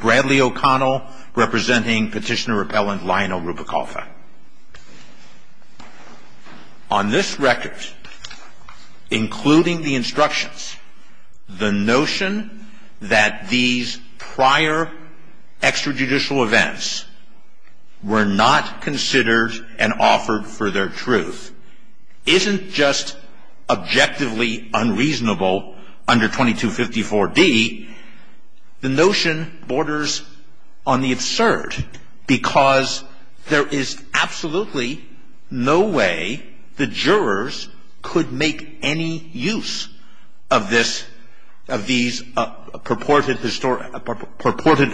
Bradley O'Connell representing petitioner repellent Lionel Rubalcava. On this record, including the instructions, the notion that these prior extrajudicial events were not considered and offered for their truth isn't just objectively unreasonable under 2254D. The notion borders on the absurd because there is absolutely no way the jurors could make any use of these purported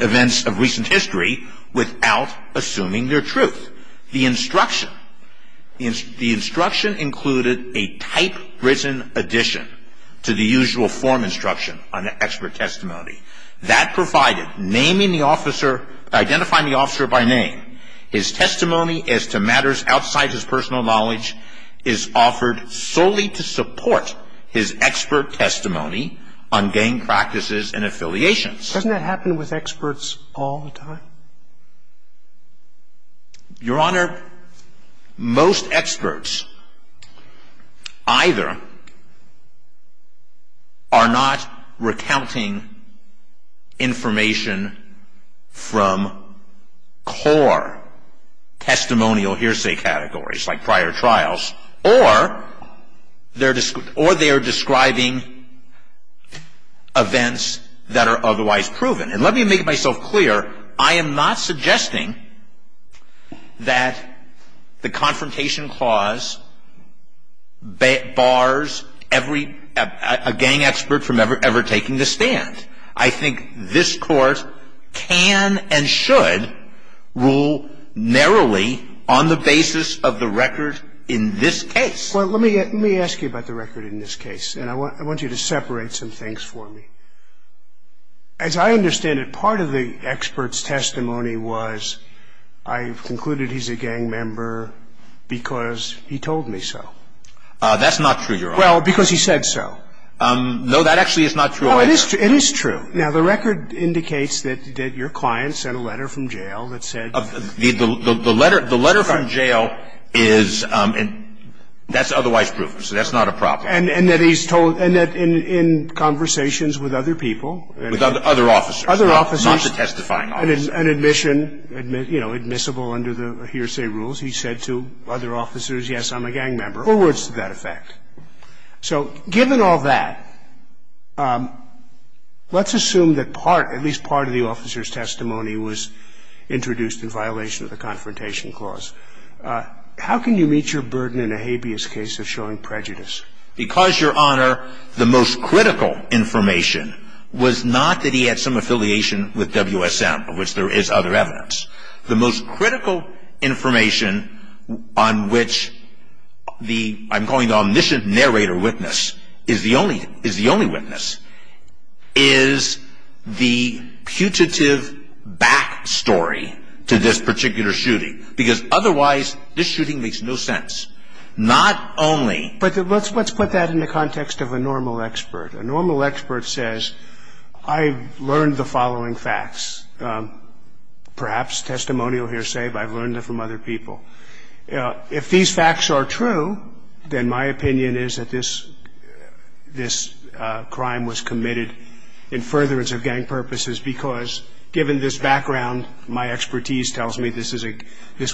events of recent history without assuming their truth. The instruction included a type-written addition to the usual form instruction on the expert testimony. That provided, naming the officer, identifying the officer by name, his testimony as to matters outside his personal knowledge is offered solely to support his expert testimony on gang practices and affiliations. Doesn't that happen with experts all the time? Your Honor, most experts either are not recounting information from core testimonial hearsay categories like prior trials or they are describing events that are otherwise proven. And let me make myself clear. I am not suggesting that the confrontation clause bars a gang expert from ever taking the stand. I am not suggesting that a gang expert can take the stand. I am not suggesting that a gang expert can take the stand. I think this Court can and should rule narrowly on the basis of the record in this case. Well, let me ask you about the record in this case. And I want you to separate some things for me. As I understand it, part of the expert's testimony was, I've concluded he's a gang member because he told me so. That's not true, Your Honor. Well, because he said so. No, that actually is not true either. No, it is true. Now, the record indicates that your client sent a letter from jail that said... The letter from jail is and that's otherwise proven. So that's not a problem. And that he's told, and that in conversations with other people... With other officers. Other officers. Not the testifying officers. And admission, you know, admissible under the hearsay rules, he said to other officers, yes, I'm a gang member. Four words to that effect. So given all that, let's assume that part, at least part of the officer's testimony was introduced in violation of the confrontation clause. How can you meet your burden in a habeas case of showing prejudice? Because, Your Honor, the most critical information was not that he had some affiliation with WSM, of which there is other evidence. The most critical information on which the, I'm calling the omniscient narrator witness, is the only witness, is the putative back story to this particular shooting. Because otherwise, this shooting makes no sense. Not only... But let's put that in the context of a normal expert. A normal expert says, I learned the following facts. Perhaps testimonial hearsay, but I've learned it from other people. If these facts are true, then my opinion is that this crime was committed in furtherance of gang purposes, because given this background, my expertise tells me this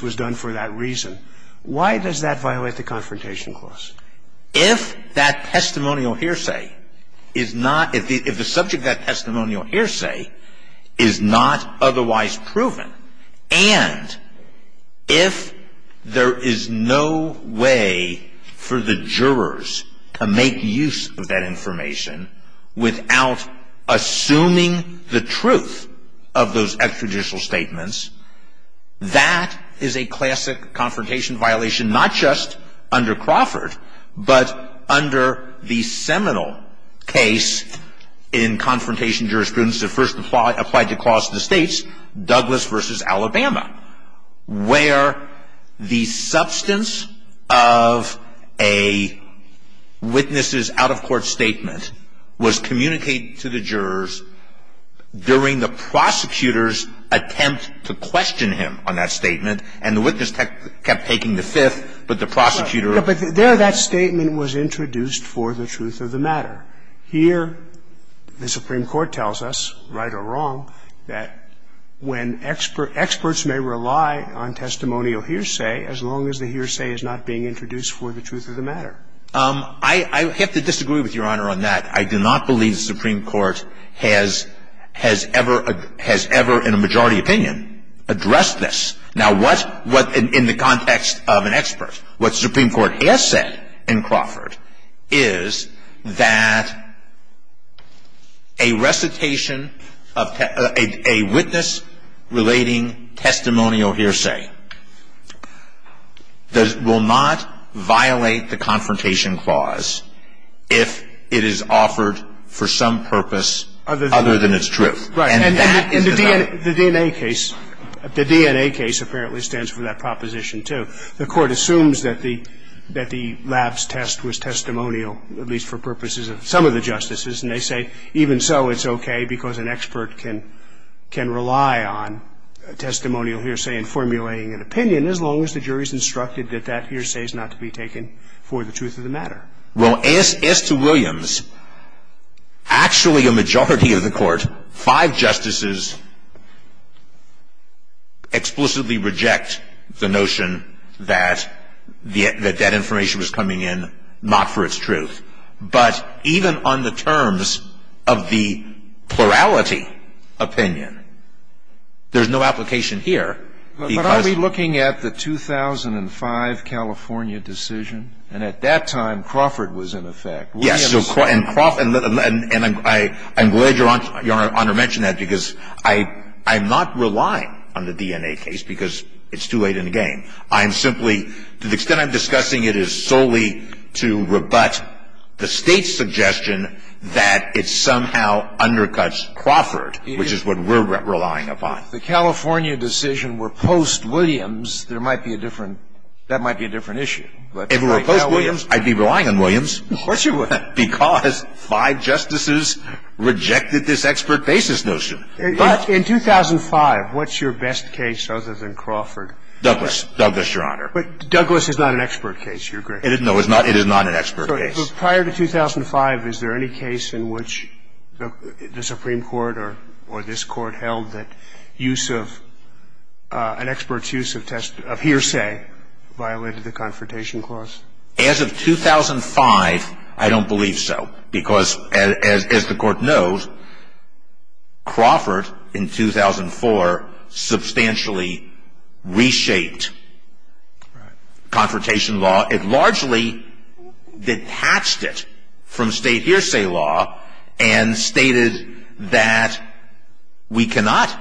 was done for that reason. Why does that violate the confrontation clause? If that testimonial hearsay is not, if the subject of that testimonial hearsay is not otherwise proven, and if there is no way for the jurors to make use of that information without assuming the truth of those extrajudicial statements, that is a classic confrontation violation, not just under Crawford, but under the seminal case in confrontation jurisprudence that first applied to Clause of the States, Douglas versus Alabama, where the substance of a witness's out-of-court statement was communicated to the jurors during the prosecutor's attempt to question him on that statement. And the witness kept taking the fifth, but the prosecutor... But there, that statement was introduced for the truth of the matter. Here, the Supreme Court tells us, right or wrong, that when experts may rely on testimonial hearsay, as long as the hearsay is not being introduced for the truth of the matter. I have to disagree with Your Honor on that. I do not believe the Supreme Court has ever in a majority opinion addressed this. Now, what, in the context of an expert, what the Supreme Court has said in Crawford is that a recitation of a witness-relating testimonial hearsay will not violate the confrontation clause if it is offered for some purpose other than its truth. And that is a fact. Right. And the DNA case, the DNA case apparently stands for that proposition, too. The Court assumes that the lapse test was testimonial, at least for purposes of some of the justices, and they say even so, it's okay because an expert can rely on a testimonial hearsay in formulating an opinion as long as the jury is instructed that that hearsay is not to be taken for the truth of the matter. Well, as to Williams, actually a majority of the Court, five justices explicitly reject the notion that that information was coming in not for its truth. But even on the terms of the plurality opinion, there's no application here. But are we looking at the 2005 California decision? And at that time Crawford was in effect. Yes. And I'm glad Your Honor mentioned that because I'm not relying on the DNA case because it's too late in the game. I'm simply to the extent I'm discussing it is solely to rebut the State's suggestion that it somehow undercuts Crawford, which is what we're relying upon. If the California decision were post-Williams, there might be a different – that might be a different issue. If it were post-Williams, I'd be relying on Williams. Of course you would. Because five justices rejected this expert basis notion. But in 2005, what's your best case other than Crawford? Douglas. Douglas, Your Honor. But Douglas is not an expert case. You're great. No, it is not an expert case. But prior to 2005, is there any case in which the Supreme Court or this Court held that use of – an expert's use of hearsay violated the Confrontation Clause? As of 2005, I don't believe so because as the Court knows, Crawford in 2004 substantially reshaped Confrontation Law. It largely detached it from State hearsay law and stated that we cannot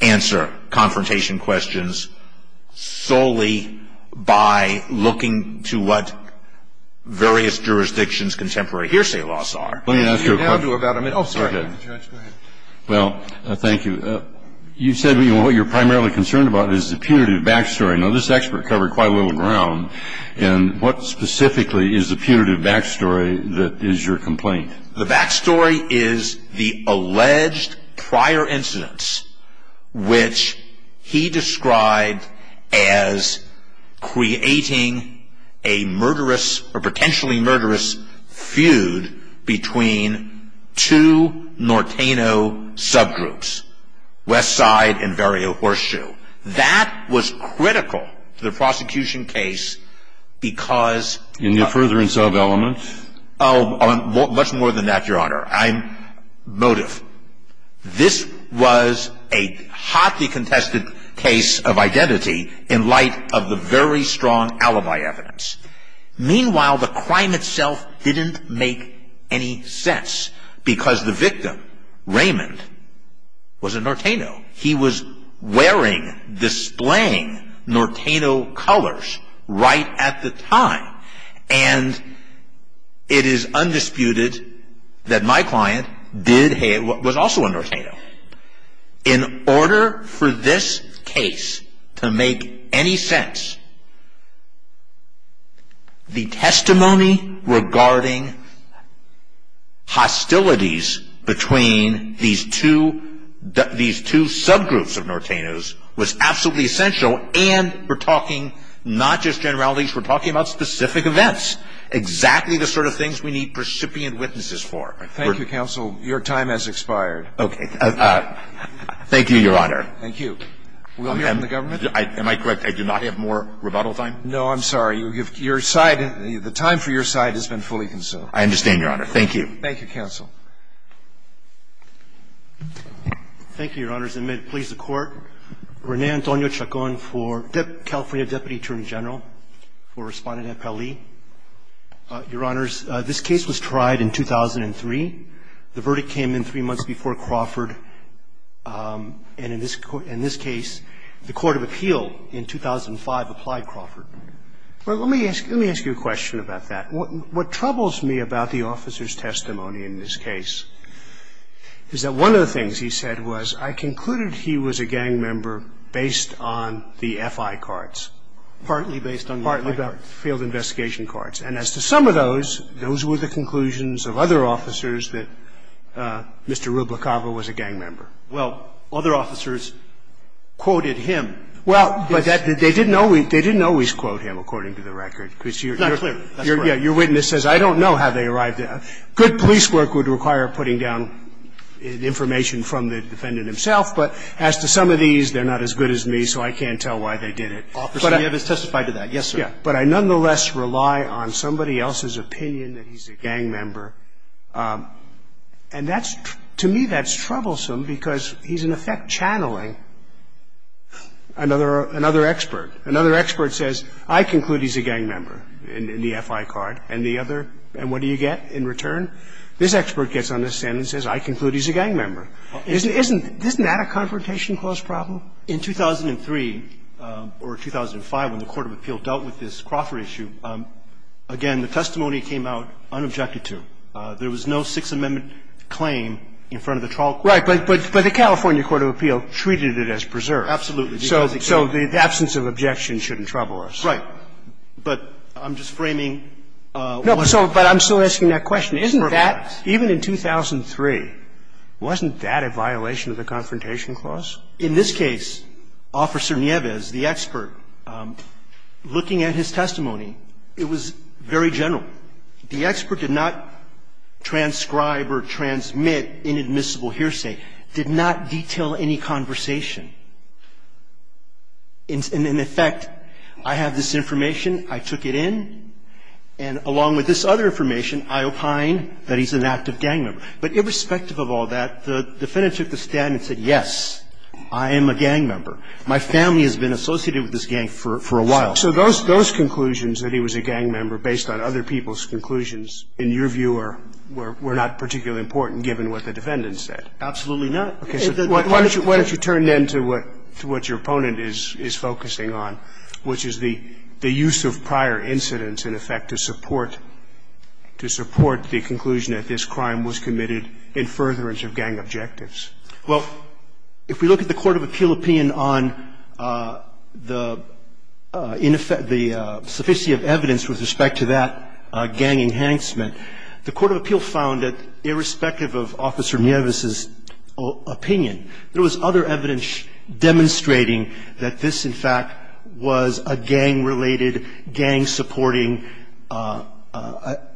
answer confrontation questions solely by looking to what various jurisdictions' contemporary hearsay laws are. Let me ask you a question. Oh, sorry. Judge, go ahead. Well, thank you. You said what you're primarily concerned about is the punitive backstory. Now, this expert covered quite a little ground. And what specifically is the punitive backstory that is your complaint? The backstory is the alleged prior incidents which he described as creating a murderous or potentially murderous feud between two Norteno subgroups, Westside and Vario Horseshoe. That was critical to the prosecution case because – In the furtherance of elements? Oh, much more than that, Your Honor. I'm – motive. This was a hotly contested case of identity in light of the very strong alibi evidence. Meanwhile, the crime itself didn't make any sense because the victim, Raymond, was a Norteno. He was wearing, displaying Norteno colors right at the time. And it is undisputed that my client did – was also a Norteno. In order for this case to make any sense, the testimony regarding hostilities between these two subgroups of Nortenos was absolutely essential. And we're talking not just generalities. We're talking about specific events, exactly the sort of things we need precipient witnesses for. Thank you, counsel. Your time has expired. Okay. Thank you, Your Honor. Thank you. We'll hear from the government. Am I correct? I do not have more rebuttal time? No, I'm sorry. Your side – the time for your side has been fully consumed. I understand, Your Honor. Thank you. Thank you, counsel. Thank you, Your Honors. And may it please the Court, Rene Antonio Chacon for California Deputy Attorney General for Respondent at Pele. Your Honors, this case was tried in 2003. The verdict came in three months before Crawford. And in this case, the court of appeal in 2005 applied Crawford. Well, let me ask you a question about that. What troubles me about the officer's testimony in this case is that one of the things he said was, I concluded he was a gang member based on the F.I. cards. Partly based on the F.I. cards. Partly about field investigation cards. And as to some of those, those were the conclusions of other officers that Mr. Rubla-Cava was a gang member. Well, other officers quoted him. Well, but they didn't always quote him, according to the record. It's not clear. That's right. Your witness says, I don't know how they arrived at that. Good police work would require putting down information from the defendant himself, but as to some of these, they're not as good as me, so I can't tell why they did it. Officer Nevis testified to that. Yes, sir. But I nonetheless rely on somebody else's opinion that he's a gang member. And that's to me that's troublesome because he's in effect channeling another expert. Another expert says, I conclude he's a gang member in the F.I. card. And the other, and what do you get in return? This expert gets on the stand and says, I conclude he's a gang member. Isn't that a Confrontation Clause problem? In 2003 or 2005, when the Court of Appeal dealt with this Crawford issue, again, the testimony came out unobjected to. There was no Sixth Amendment claim in front of the trial court. Right. But the California Court of Appeal treated it as preserved. Absolutely. So the absence of objection shouldn't trouble us. Right. But I'm just framing what I'm saying. No, but I'm still asking that question. Isn't that, even in 2003, wasn't that a violation of the Confrontation Clause? In this case, Officer Nieves, the expert, looking at his testimony, it was very general. The expert did not transcribe or transmit inadmissible hearsay, did not detail any conversation. In effect, I have this information. I took it in. And along with this other information, I opine that he's an active gang member. But irrespective of all that, the defendant took the stand and said, yes, I am a gang member. My family has been associated with this gang for a while. So those conclusions, that he was a gang member based on other people's conclusions, in your view, were not particularly important, given what the defendant said? Absolutely not. Why don't you turn then to what your opponent is focusing on, which is the use of prior incidents, in effect, to support the conclusion that this crime was committed in furtherance of gang objectives? Well, if we look at the court of appeal opinion on the ineffective, the sufficiety of evidence with respect to that gang enhancement, the court of appeal found that irrespective of Officer Nieves' opinion, there was other evidence demonstrating that this, in fact, was a gang-related, gang-supporting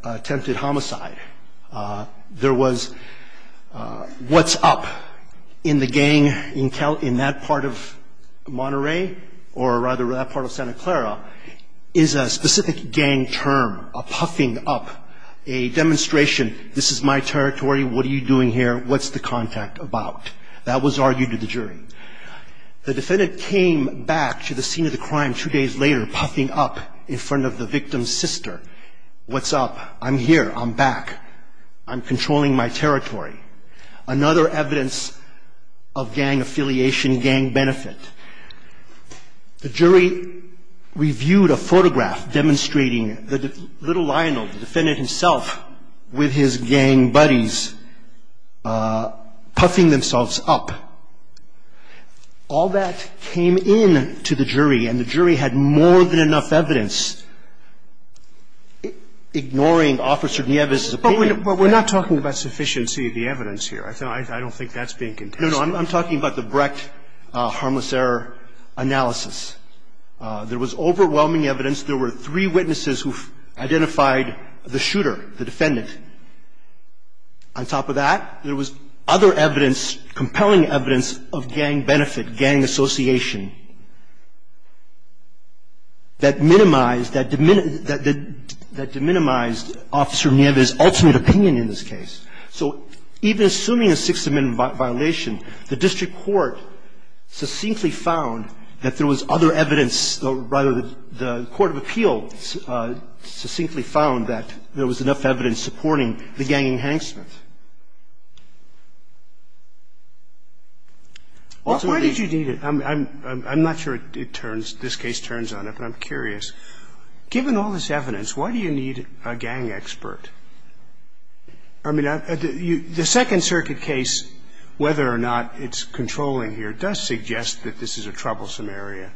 attempted homicide. There was what's up in the gang in that part of Monterey, or rather that part of Santa Clara, is a specific gang term, a puffing up, a demonstration. This is my territory. What are you doing here? What's the contact about? That was argued to the jury. The defendant came back to the scene of the crime two days later puffing up in front of the victim's sister. What's up? I'm here. I'm back. I'm controlling my territory. Another evidence of gang affiliation, gang benefit. The jury reviewed a photograph demonstrating Little Lionel, the defendant himself, with his gang buddies puffing themselves up. All that came in to the jury, and the jury had more than enough evidence ignoring Officer Nieves' opinion. But we're not talking about sufficiency of the evidence here. I don't think that's being contested. No, no. I'm talking about the Brecht harmless error analysis. There was overwhelming evidence. There were three witnesses who identified the shooter, the defendant. On top of that, there was other evidence, compelling evidence of gang benefit, gang association, that minimized, that diminished Officer Nieves' ultimate opinion in this case. So even assuming a Sixth Amendment violation, the district court succinctly found that there was other evidence, rather, the court of appeals succinctly found that there was enough evidence supporting the ganging hanksmith. Why did you need it? I'm not sure it turns, this case turns on it, but I'm curious. Given all this evidence, why do you need a gang expert? I mean, the Second Circuit case, whether or not it's controlling here, does suggest that this is a troublesome area.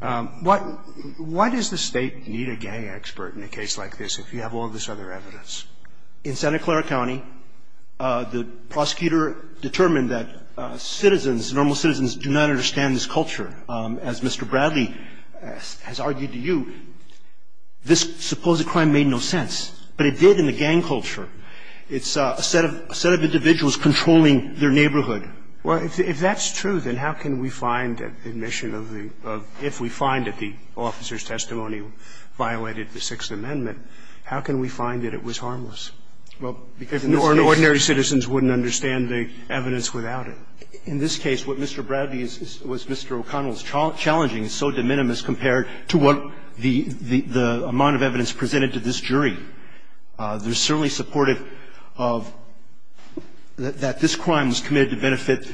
Why does the State need a gang expert in a case like this if you have all this other evidence? In Santa Clara County, the prosecutor determined that citizens, normal citizens, do not understand this culture. As Mr. Bradley has argued to you, this supposed crime made no sense, but it did in the gang culture. It's a set of individuals controlling their neighborhood. Well, if that's true, then how can we find admission of the – if we find that the officer's testimony violated the Sixth Amendment, how can we find that it was harmless? Or an ordinary citizen wouldn't understand the evidence without it. In this case, what Mr. Bradley is – what Mr. O'Connell is challenging is so de minimis compared to what the amount of evidence presented to this jury. They're certainly supportive of – that this crime was committed to benefit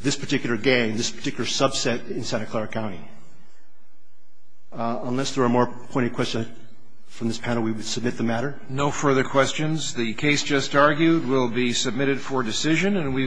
this particular gang, this particular subset in Santa Clara County. Unless there are more pointed questions from this panel, we would submit the matter. No further questions. The case just argued will be submitted for decision.